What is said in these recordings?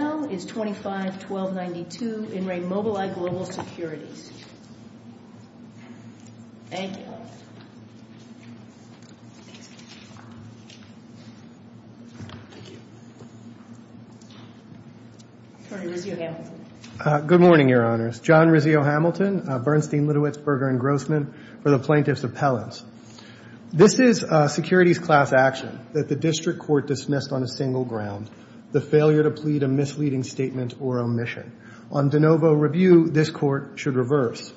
File No. 25-1292, In Re. Mobileye Global Securities. Thank you. Attorney Rizzio-Hamilton. Good morning, Your Honors. John Rizzio-Hamilton, Bernstein, Litowitz, Berger, and Grossman for the Plaintiff's Appellants. This is securities class action that the district court dismissed on a single ground, the failure to plead a misleading statement or omission. On de novo review, this court should reverse.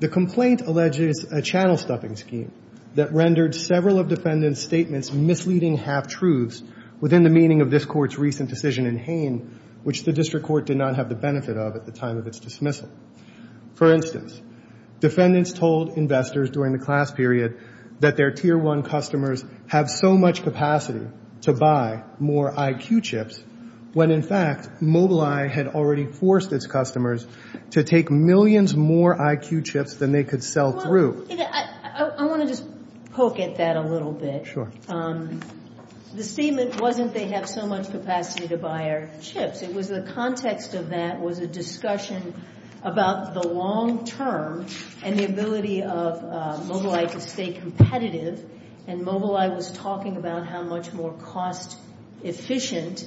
The complaint alleges a channel-stuffing scheme that rendered several of defendants' statements misleading half-truths within the meaning of this court's recent decision in Hain, which the district court did not have the benefit of at the time of its dismissal. For instance, defendants told investors during the class period that their Tier 1 customers have so much capacity to buy more IQ chips when, in fact, Mobileye had already forced its customers to take millions more IQ chips than they could sell through. I want to just poke at that a little bit. Sure. The statement wasn't they have so much capacity to buy our chips. It was the context of that was a discussion about the long term and the ability of Mobileye to stay competitive. And Mobileye was talking about how much more cost-efficient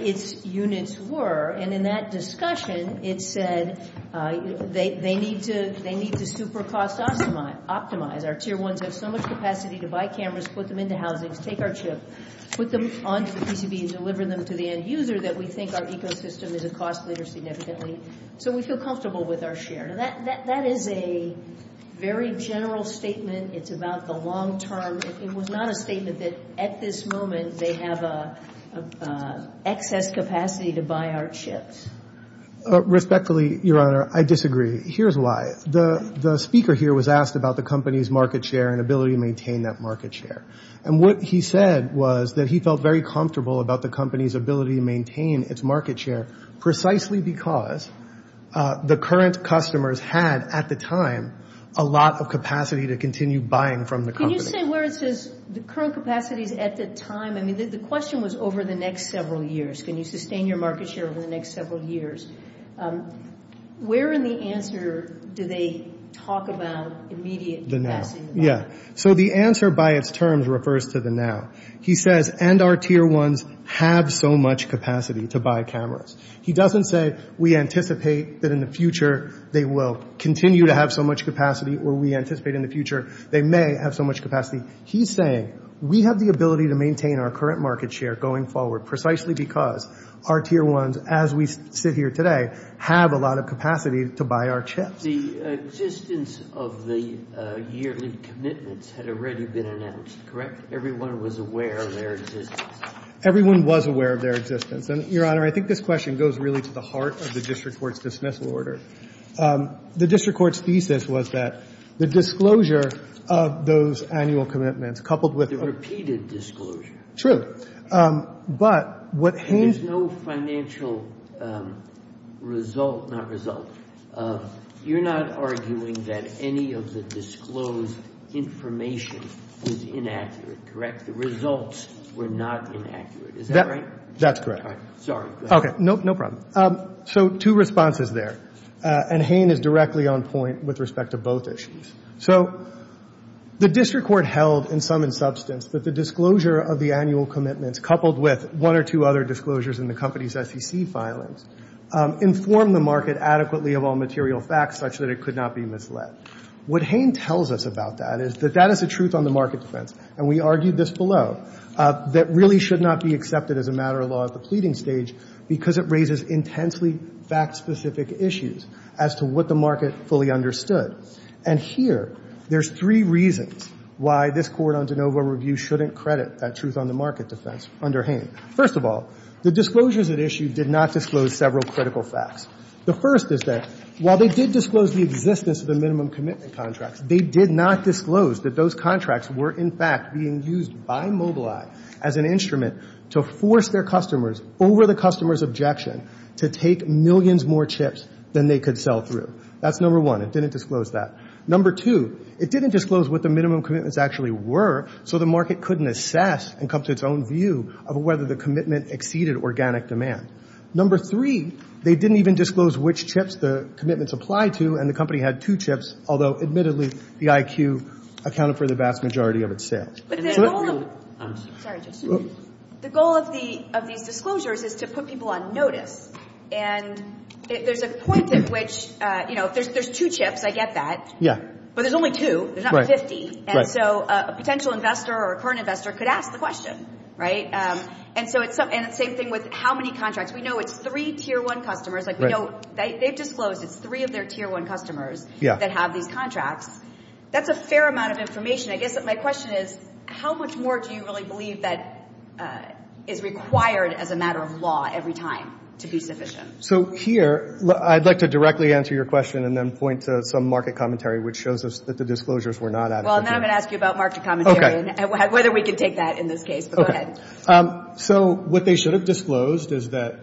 its units were. And in that discussion, it said they need to super-cost optimize. Our Tier 1s have so much capacity to buy cameras, put them into housings, take our chip, put them onto the PCB and deliver them to the end user that we think our ecosystem is a cost leader significantly. So we feel comfortable with our share. Now, that is a very general statement. It's about the long term. It was not a statement that at this moment they have excess capacity to buy our chips. Respectfully, Your Honor, I disagree. Here's why. The speaker here was asked about the company's market share and ability to maintain that market share. And what he said was that he felt very comfortable about the company's ability to maintain its market share precisely because the current customers had at the time a lot of capacity to continue buying from the company. Can you say where it says the current capacities at the time? I mean, the question was over the next several years. Can you sustain your market share over the next several years? Where in the answer do they talk about immediate capacity? The now. Yeah. So the answer by its terms refers to the now. He says, and our Tier 1s have so much capacity to buy cameras. He doesn't say we anticipate that in the future they will continue to have so much capacity or we anticipate in the future they may have so much capacity. He's saying we have the ability to maintain our current market share going forward precisely because our Tier 1s, as we sit here today, have a lot of capacity to buy our chips. The existence of the yearly commitments had already been announced, correct? Everyone was aware of their existence. Everyone was aware of their existence. And, Your Honor, I think this question goes really to the heart of the district court's dismissal order. The district court's thesis was that the disclosure of those annual commitments coupled with them. Repeated disclosure. True. But what Haynes. There's no financial result, not result. You're not arguing that any of the disclosed information was inaccurate, correct? The results were not inaccurate. Is that right? That's correct. Sorry. Okay. No problem. So two responses there. And Haynes is directly on point with respect to both issues. So the district court held in sum and substance that the disclosure of the annual commitments coupled with one or two other disclosures in the company's SEC filings informed the market adequately of all material facts such that it could not be misled. What Haynes tells us about that is that that is the truth on the market defense, and we argued this below, that really should not be accepted as a matter of law at the pleading stage because it raises intensely fact-specific issues as to what the market fully understood. And here there's three reasons why this court on de novo review shouldn't credit that truth on the market defense under Haynes. First of all, the disclosures at issue did not disclose several critical facts. The first is that while they did disclose the existence of the minimum commitment contracts, they did not disclose that those contracts were in fact being used by Mobileye as an instrument to force their customers over the customer's objection to take millions more chips than they could sell through. That's number one. It didn't disclose that. Number two, it didn't disclose what the minimum commitments actually were, so the market couldn't assess and come to its own view of whether the commitment exceeded organic demand. Number three, they didn't even disclose which chips the commitments applied to, and the company had two chips, although admittedly the IQ accounted for the vast majority of its sales. But the goal of these disclosures is to put people on notice. And there's a point at which, you know, there's two chips, I get that. Yeah. But there's only two. There's not 50. Right. And so a potential investor or a current investor could ask the question, right? And so it's the same thing with how many contracts. We know it's three tier one customers. Like we know they've disclosed it's three of their tier one customers that have these contracts. That's a fair amount of information. I guess my question is how much more do you really believe that is required as a matter of law every time to be sufficient? So here, I'd like to directly answer your question and then point to some market commentary which shows us that the disclosures were not adequate. Well, now I'm going to ask you about market commentary and whether we can take that in this case. But go ahead. Okay. So what they should have disclosed is that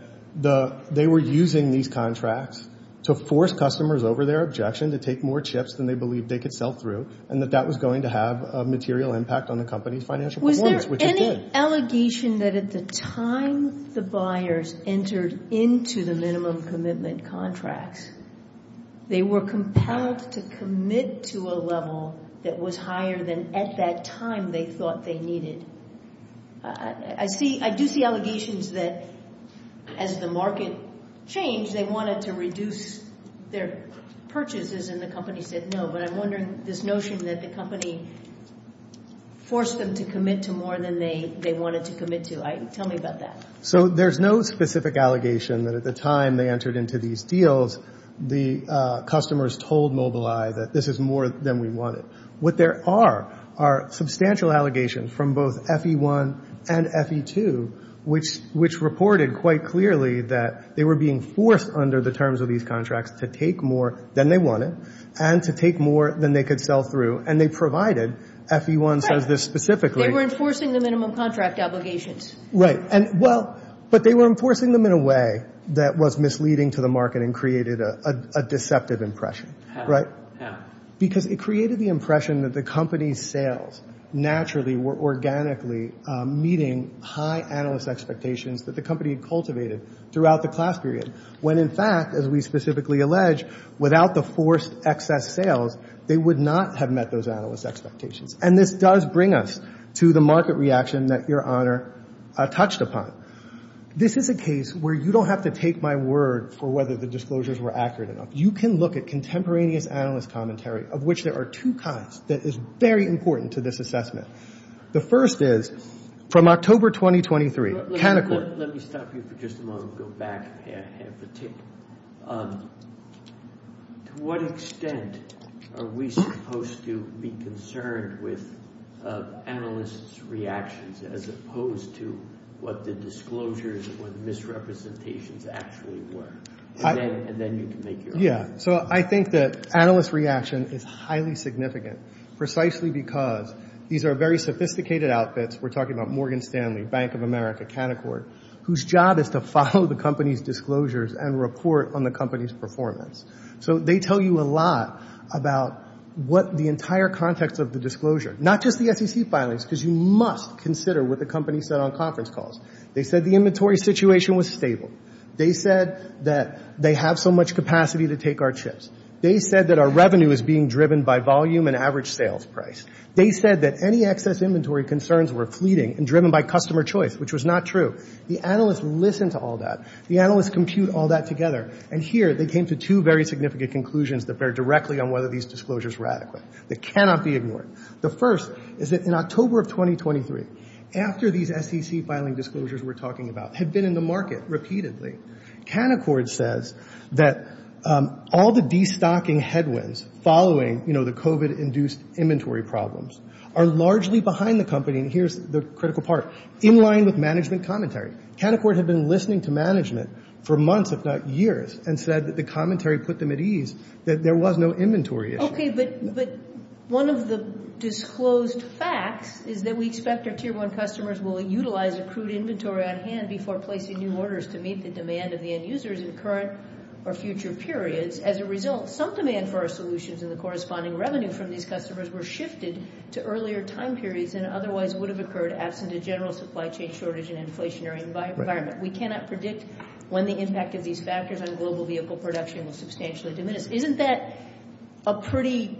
they were using these contracts to force customers over their objection to take more chips than they believed they could sell through, and that that was going to have a material impact on the company's financial performance, which it did. Was there any allegation that at the time the buyers entered into the minimum commitment contracts, they were compelled to commit to a level that was higher than at that time they thought they needed? I do see allegations that as the market changed, they wanted to reduce their purchases, and the company said no. But I'm wondering this notion that the company forced them to commit to more than they wanted to commit to. Tell me about that. So there's no specific allegation that at the time they entered into these deals, the customers told Mobileye that this is more than we wanted. What there are are substantial allegations from both FE1 and FE2, which reported quite clearly that they were being forced under the terms of these contracts to take more than they wanted and to take more than they could sell through, and they provided FE1 says this specifically. They were enforcing the minimum contract obligations. Right. Well, but they were enforcing them in a way that was misleading to the market and created a deceptive impression. How? Because it created the impression that the company's sales naturally were organically meeting high analyst expectations that the company had cultivated throughout the class period, when in fact, as we specifically allege, without the forced excess sales, they would not have met those analyst expectations. And this does bring us to the market reaction that Your Honor touched upon. This is a case where you don't have to take my word for whether the disclosures were accurate enough. You can look at contemporaneous analyst commentary, of which there are two kinds that is very important to this assessment. The first is from October 2023. Let me stop you for just a moment and go back a half a tick. To what extent are we supposed to be concerned with analysts' reactions as opposed to what the disclosures or the misrepresentations actually were? And then you can make your own. Yeah. So I think that analyst reaction is highly significant, precisely because these are very sophisticated outfits. We're talking about Morgan Stanley, Bank of America, Canaccord, whose job is to follow the company's disclosures and report on the company's performance. So they tell you a lot about what the entire context of the disclosure, not just the SEC filings, because you must consider what the company said on conference calls. They said the inventory situation was stable. They said that they have so much capacity to take our chips. They said that our revenue is being driven by volume and average sales price. They said that any excess inventory concerns were fleeting and driven by customer choice, which was not true. The analysts listened to all that. The analysts compute all that together. And here they came to two very significant conclusions that bear directly on whether these disclosures were adequate. They cannot be ignored. The first is that in October of 2023, after these SEC filing disclosures we're talking about had been in the market repeatedly, Canaccord says that all the destocking headwinds following, you know, the COVID-induced inventory problems are largely behind the company, and here's the critical part, in line with management commentary. Canaccord had been listening to management for months, if not years, and said that the commentary put them at ease, that there was no inventory issue. Okay, but one of the disclosed facts is that we expect our Tier 1 customers will utilize accrued inventory on hand before placing new orders to meet the demand of the end users in current or future periods. As a result, some demand for our solutions and the corresponding revenue from these customers were shifted to earlier time periods than otherwise would have occurred absent a general supply chain shortage and inflationary environment. We cannot predict when the impact of these factors on global vehicle production will substantially diminish. Isn't that a pretty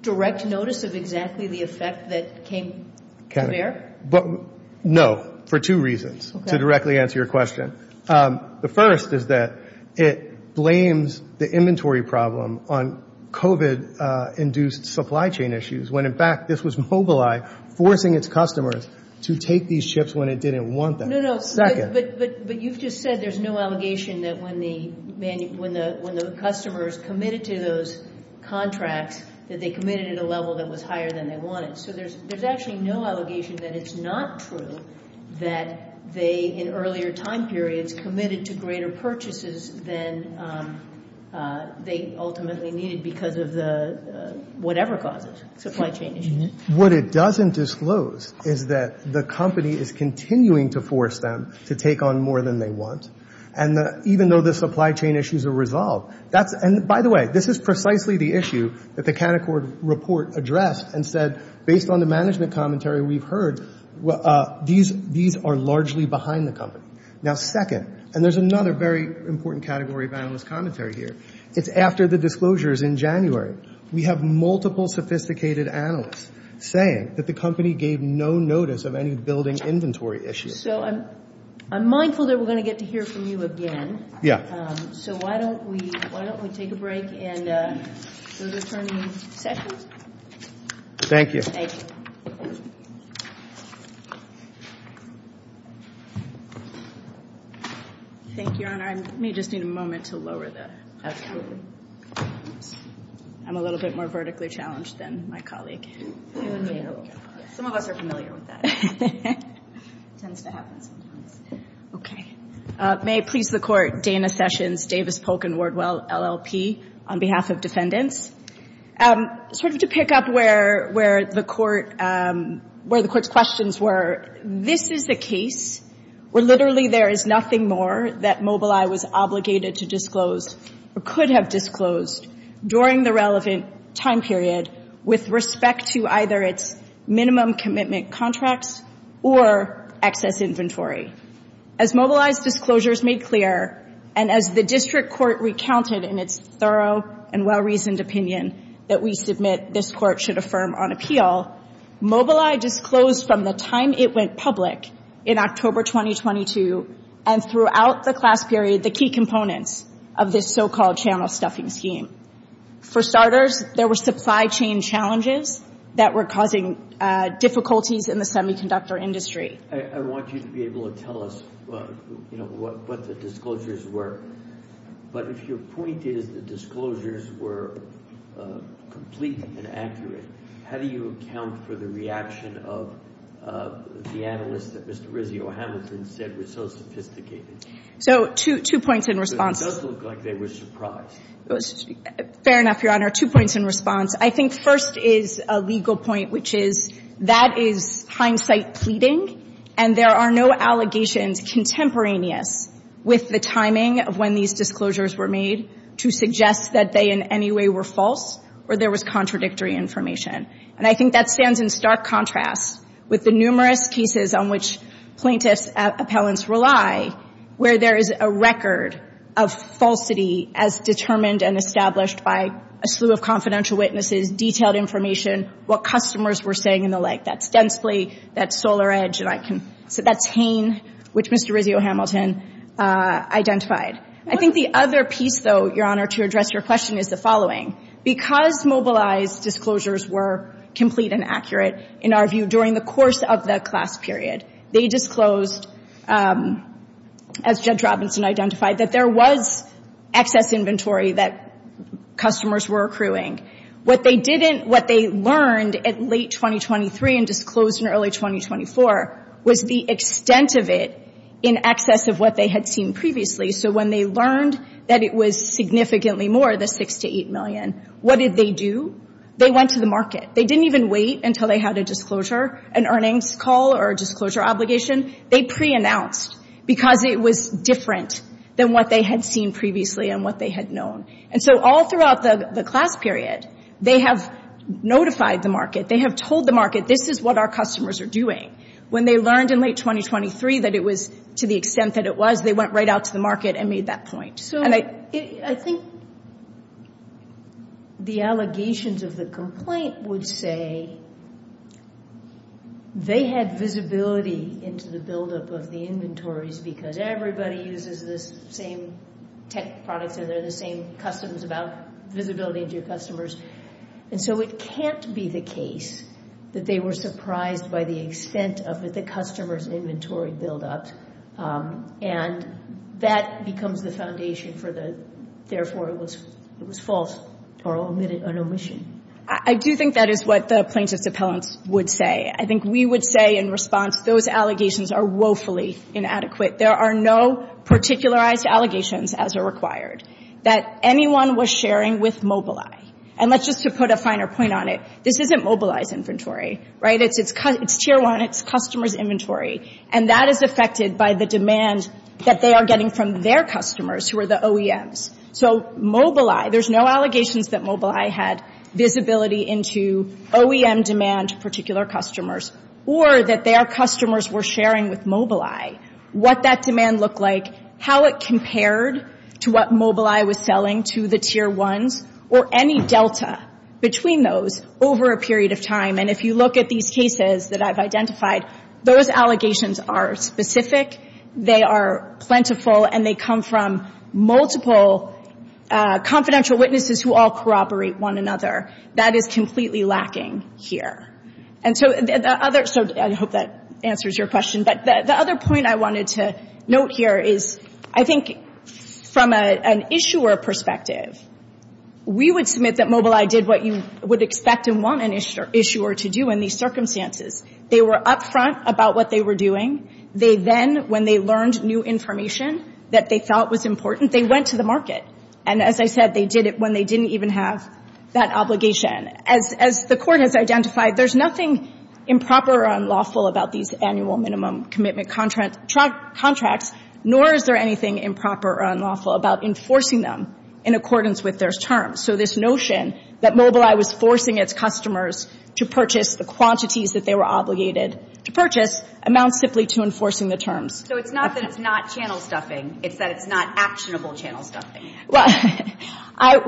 direct notice of exactly the effect that came to bear? No, for two reasons, to directly answer your question. The first is that it blames the inventory problem on COVID-induced supply chain issues when, in fact, this was Mobileye forcing its customers to take these ships when it didn't want them. No, no, but you've just said there's no allegation that when the customers committed to those contracts, that they committed at a level that was higher than they wanted. So there's actually no allegation that it's not true that they, in earlier time periods, committed to greater purchases than they ultimately needed because of the whatever causes, supply chain issues. What it doesn't disclose is that the company is continuing to force them to take on more than they want. And even though the supply chain issues are resolved, and by the way, this is precisely the issue that the Canaccord report addressed and said, based on the management commentary we've heard, these are largely behind the company. Now, second, and there's another very important category of analyst commentary here, it's after the disclosures in January. We have multiple sophisticated analysts saying that the company gave no notice of any building inventory issues. So I'm mindful that we're going to get to hear from you again. Yeah. So why don't we take a break and go to Attorney Sessions. Thank you. Thank you. Thank you, Your Honor. I may just need a moment to lower the camera. I'm a little bit more vertically challenged than my colleague. Some of us are familiar with that. It tends to happen sometimes. Okay. May it please the Court, Dana Sessions, Davis, Polk & Wardwell, LLP, on behalf of defendants. Sort of to pick up where the Court's questions were, this is a case where literally there is nothing more that Mobileye was obligated to disclose or could have disclosed during the relevant time period with respect to either its minimum commitment contracts or excess inventory. As Mobileye's disclosures made clear, and as the district court recounted in its thorough and well-reasoned opinion that we submit this Court should affirm on appeal, Mobileye disclosed from the time it went public in October 2022 and throughout the class period the key components of this so-called channel stuffing scheme. For starters, there were supply chain challenges that were causing difficulties in the semiconductor industry. I want you to be able to tell us what the disclosures were. But if your point is the disclosures were complete and accurate, how do you account for the reaction of the analysts that Mr. Rizzio-Hamilton said were so sophisticated? So two points in response. It does look like they were surprised. Fair enough, Your Honor. Two points in response. I think first is a legal point, which is that is hindsight pleading, and there are no allegations contemporaneous with the timing of when these disclosures were made to suggest that they in any way were false or there was contradictory information. And I think that stands in stark contrast with the numerous cases on which plaintiffs' appellants rely where there is a record of falsity as determined and established by a slew of confidential witnesses, detailed information, what customers were saying, and the like. That's Densley, that's SolarEdge, and that's Hain, which Mr. Rizzio-Hamilton identified. I think the other piece, though, Your Honor, to address your question is the following. Because mobilized disclosures were complete and accurate, in our view, during the course of the class period, they disclosed, as Judge Robinson identified, that there was excess inventory that customers were accruing. What they didn't, what they learned at late 2023 and disclosed in early 2024 was the extent of it in excess of what they had seen previously. So when they learned that it was significantly more, the $6 million to $8 million, what did they do? They went to the market. They didn't even wait until they had a disclosure, an earnings call or a disclosure obligation. They preannounced because it was different than what they had seen previously and what they had known. And so all throughout the class period, they have notified the market. They have told the market, this is what our customers are doing. When they learned in late 2023 that it was to the extent that it was, they went right out to the market and made that point. So I think the allegations of the complaint would say they had visibility into the buildup of the inventories because everybody uses the same tech products and they're the same customs about visibility to your customers. And so it can't be the case that they were surprised by the extent of the customer's inventory buildup. And that becomes the foundation for the, therefore, it was false or an omission. I do think that is what the plaintiffs' appellants would say. I think we would say in response, those allegations are woefully inadequate. There are no particularized allegations as are required that anyone was sharing with Mobileye. And let's just put a finer point on it. This isn't Mobileye's inventory, right? It's Tier 1. It's customers' inventory. And that is affected by the demand that they are getting from their customers, who are the OEMs. So Mobileye, there's no allegations that Mobileye had visibility into OEM demand to particular customers or that their customers were sharing with Mobileye what that demand looked like, how it compared to what Mobileye was selling to the Tier 1s or any delta between those over a period of time. And if you look at these cases that I've identified, those allegations are specific, they are plentiful, and they come from multiple confidential witnesses who all corroborate one another. That is completely lacking here. And so the other — so I hope that answers your question. But the other point I wanted to note here is, I think from an issuer perspective, we would submit that Mobileye did what you would expect and want an issuer to do in these circumstances. They were upfront about what they were doing. They then, when they learned new information that they felt was important, they went to the market. And as I said, they did it when they didn't even have that obligation. As the Court has identified, there's nothing improper or unlawful about these annual minimum commitment contracts, nor is there anything improper or unlawful about enforcing them in accordance with those terms. So this notion that Mobileye was forcing its customers to purchase the quantities that they were obligated to purchase amounts simply to enforcing the terms. So it's not that it's not channel stuffing. It's that it's not actionable channel stuffing. Well,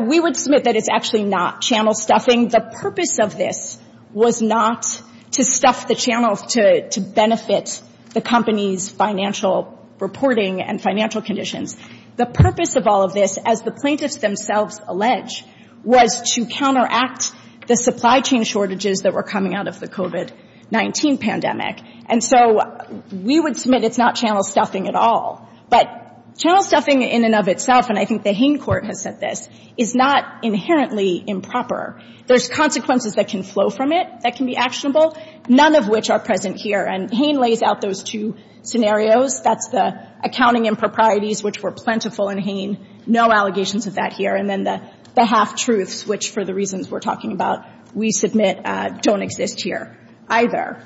we would submit that it's actually not channel stuffing. The purpose of this was not to stuff the channels to benefit the company's financial reporting and financial conditions. The purpose of all of this, as the plaintiffs themselves allege, was to counteract the supply chain shortages that were coming out of the COVID-19 pandemic. And so we would submit it's not channel stuffing at all. But channel stuffing in and of itself, and I think the Hain court has said this, is not inherently improper. There's consequences that can flow from it that can be actionable, none of which are present here. And Hain lays out those two scenarios. That's the accounting improprieties, which were plentiful in Hain. No allegations of that here. And then the half-truths, which, for the reasons we're talking about, we submit don't exist here either.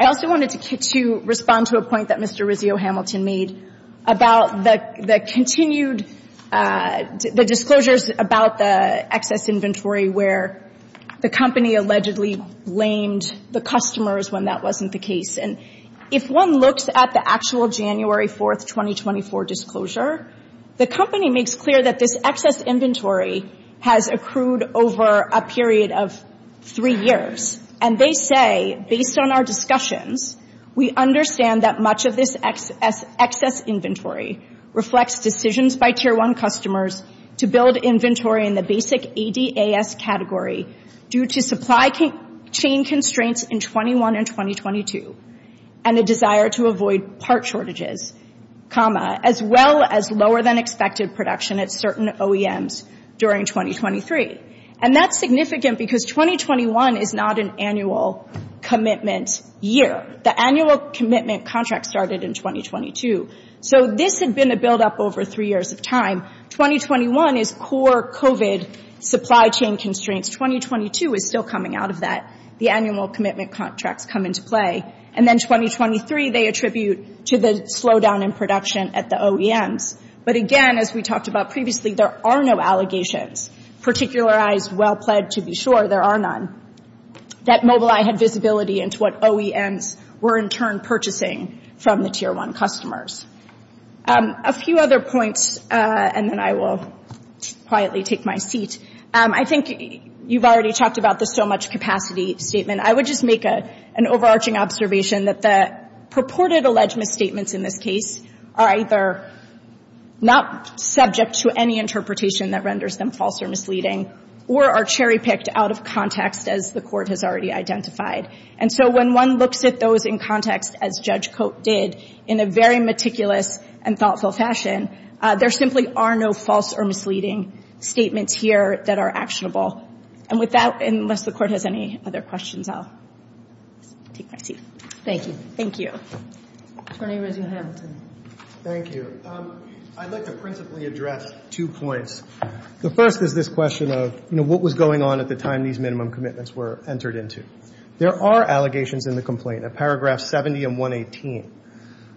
I also wanted to respond to a point that Mr. Rizzio-Hamilton made about the continued, the disclosures about the excess inventory where the company allegedly blamed the customers when that wasn't the case. And if one looks at the actual January 4, 2024 disclosure, the company makes clear that this excess inventory has accrued over a period of three years. And they say, based on our discussions, we understand that much of this excess inventory reflects decisions by Tier 1 customers to build inventory in the basic ADAS category due to supply chain constraints in 21 and 2022 and a desire to avoid part shortages, as well as lower-than-expected production at certain OEMs during 2023. And that's significant because 2021 is not an annual commitment year. The annual commitment contract started in 2022. So this had been a buildup over three years of time. 2021 is core COVID supply chain constraints. 2022 is still coming out of that. The annual commitment contracts come into play. And then 2023, they attribute to the slowdown in production at the OEMs. But again, as we talked about previously, there are no allegations. Particularized, well-pled, to be sure, there are none, that Mobileye had visibility into what OEMs were, in turn, purchasing from the Tier 1 customers. A few other points, and then I will quietly take my seat. I think you've already talked about the so-much-capacity statement. I would just make an overarching observation that the purported alleged misstatements in this case are either not subject to any interpretation that renders them false or misleading or are cherry-picked out of context, as the Court has already identified. And so when one looks at those in context, as Judge Cote did, in a very meticulous and thoughtful fashion, there simply are no false or misleading statements here that are actionable. And with that, unless the Court has any other questions, I'll take my seat. Thank you. Thank you. Attorney Rosie Hamilton. Thank you. I'd like to principally address two points. The first is this question of, you know, what was going on at the time these minimum commitments were entered into. There are allegations in the complaint, in paragraphs 70 and 118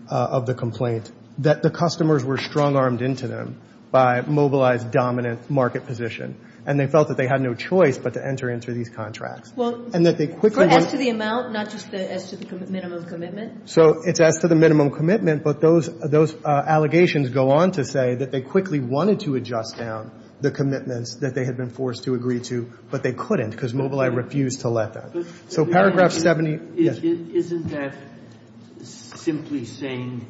of the complaint, that the customers were strong-armed into them by Mobileye's dominant market position and they felt that they had no choice but to enter into these contracts. Well, as to the amount, not just as to the minimum commitment? So it's as to the minimum commitment, but those allegations go on to say that they quickly wanted to adjust down the commitments that they had been forced to agree to, but they couldn't because Mobileye refused to let them. So paragraph 70 — Isn't that simply saying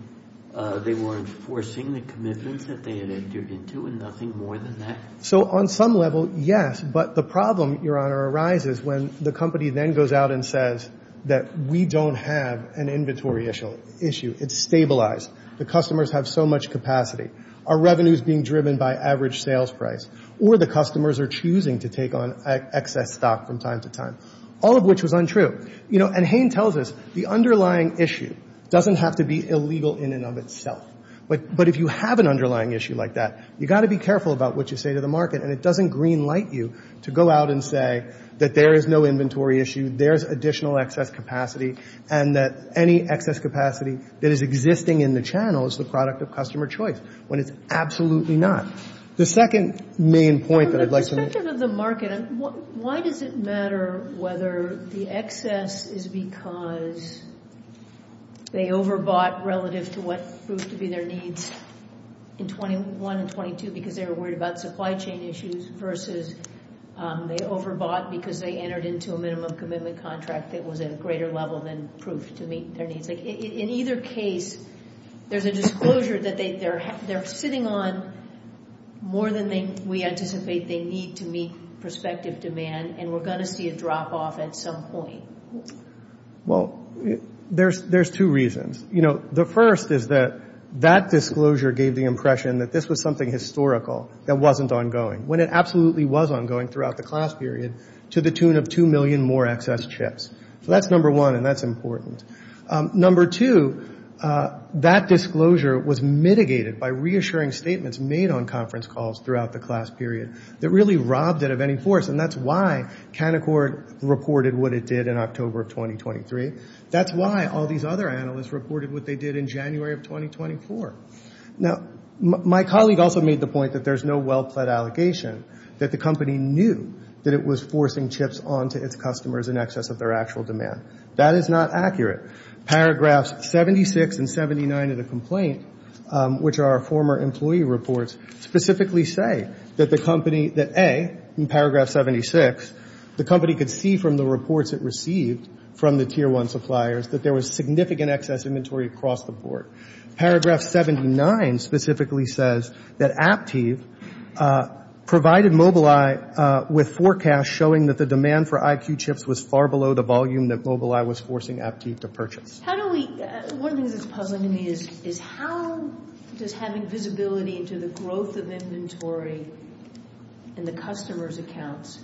they weren't forcing the commitments that they had entered into and nothing more than that? So on some level, yes, but the problem, Your Honor, arises when the company then goes out and says that we don't have an inventory issue. It's stabilized. The customers have so much capacity. Our revenue is being driven by average sales price or the customers are choosing to take on excess stock from time to time, all of which was untrue. You know, and Hain tells us the underlying issue doesn't have to be illegal in and of itself, but if you have an underlying issue like that, you've got to be careful about what you say to the market, and it doesn't green light you to go out and say that there is no inventory issue, there is additional excess capacity, and that any excess capacity that is existing in the channel is the product of customer choice, when it's absolutely not. The second main point that I'd like to make — From the perspective of the market, why does it matter whether the excess is because they overbought relative to what proved to be their needs in 21 and 22 because they were worried about supply chain issues versus they overbought because they entered into a minimum commitment contract that was at a greater level than proved to meet their needs? In either case, there's a disclosure that they're sitting on more than we anticipate they need to meet prospective demand, and we're going to see a drop-off at some point. Well, there's two reasons. The first is that that disclosure gave the impression that this was something historical that wasn't ongoing, when it absolutely was ongoing throughout the class period to the tune of 2 million more excess chips. So that's number one, and that's important. Number two, that disclosure was mitigated by reassuring statements made on conference calls throughout the class period that really robbed it of any force, and that's why Canaccord reported what it did in October of 2023. That's why all these other analysts reported what they did in January of 2024. Now, my colleague also made the point that there's no well-pled allegation that the company knew that it was forcing chips onto its customers in excess of their actual demand. That is not accurate. Paragraphs 76 and 79 of the complaint, which are former employee reports, specifically say that the company, that A, in paragraph 76, the company could see from the reports it received from the Tier 1 suppliers that there was significant excess inventory across the board. Paragraph 79 specifically says that Aptiv provided Mobileye with forecasts showing that the demand for IQ chips was far below the volume that Mobileye was forcing Aptiv to purchase. How do we – one of the things that's puzzling to me is how does having visibility into the growth of inventory in the customer's accounts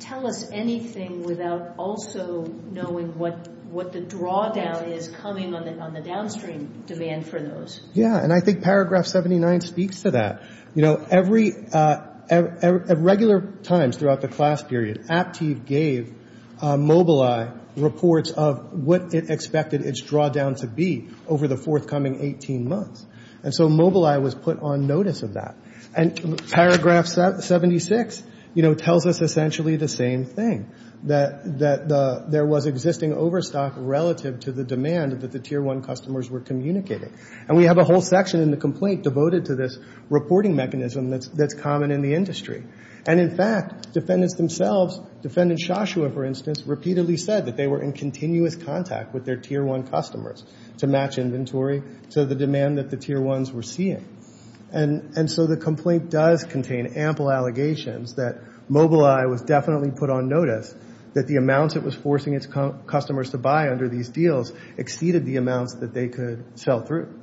tell us anything without also knowing what the drawdown is coming on the downstream demand for those? Yeah, and I think paragraph 79 speaks to that. You know, at regular times throughout the class period, Aptiv gave Mobileye reports of what it expected its drawdown to be over the forthcoming 18 months. And so Mobileye was put on notice of that. And paragraph 76, you know, tells us essentially the same thing, that there was existing overstock relative to the demand that the Tier 1 customers were communicating. And we have a whole section in the complaint devoted to this reporting mechanism that's common in the industry. And, in fact, defendants themselves, defendant Shoshua, for instance, repeatedly said that they were in continuous contact with their Tier 1 customers to match inventory to the demand that the Tier 1s were seeing. And so the complaint does contain ample allegations that Mobileye was definitely put on notice that the amounts it was forcing its customers to buy under these deals exceeded the amounts that they could sell through.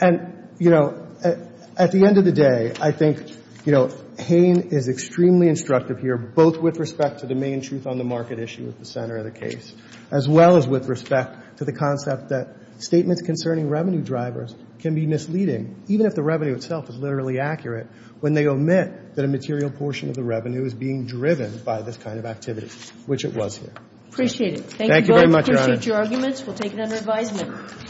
And, you know, at the end of the day, I think, you know, Hain is extremely instructive here, both with respect to the main truth on the market issue at the center of the case, as well as with respect to the concept that statements concerning revenue drivers can be misleading, even if the revenue itself is literally accurate, when they omit that a material portion of the revenue is being driven by this kind of activity, which it was here. Appreciate it. Thank you very much, Your Honor. We appreciate your arguments. We'll take it under advisement.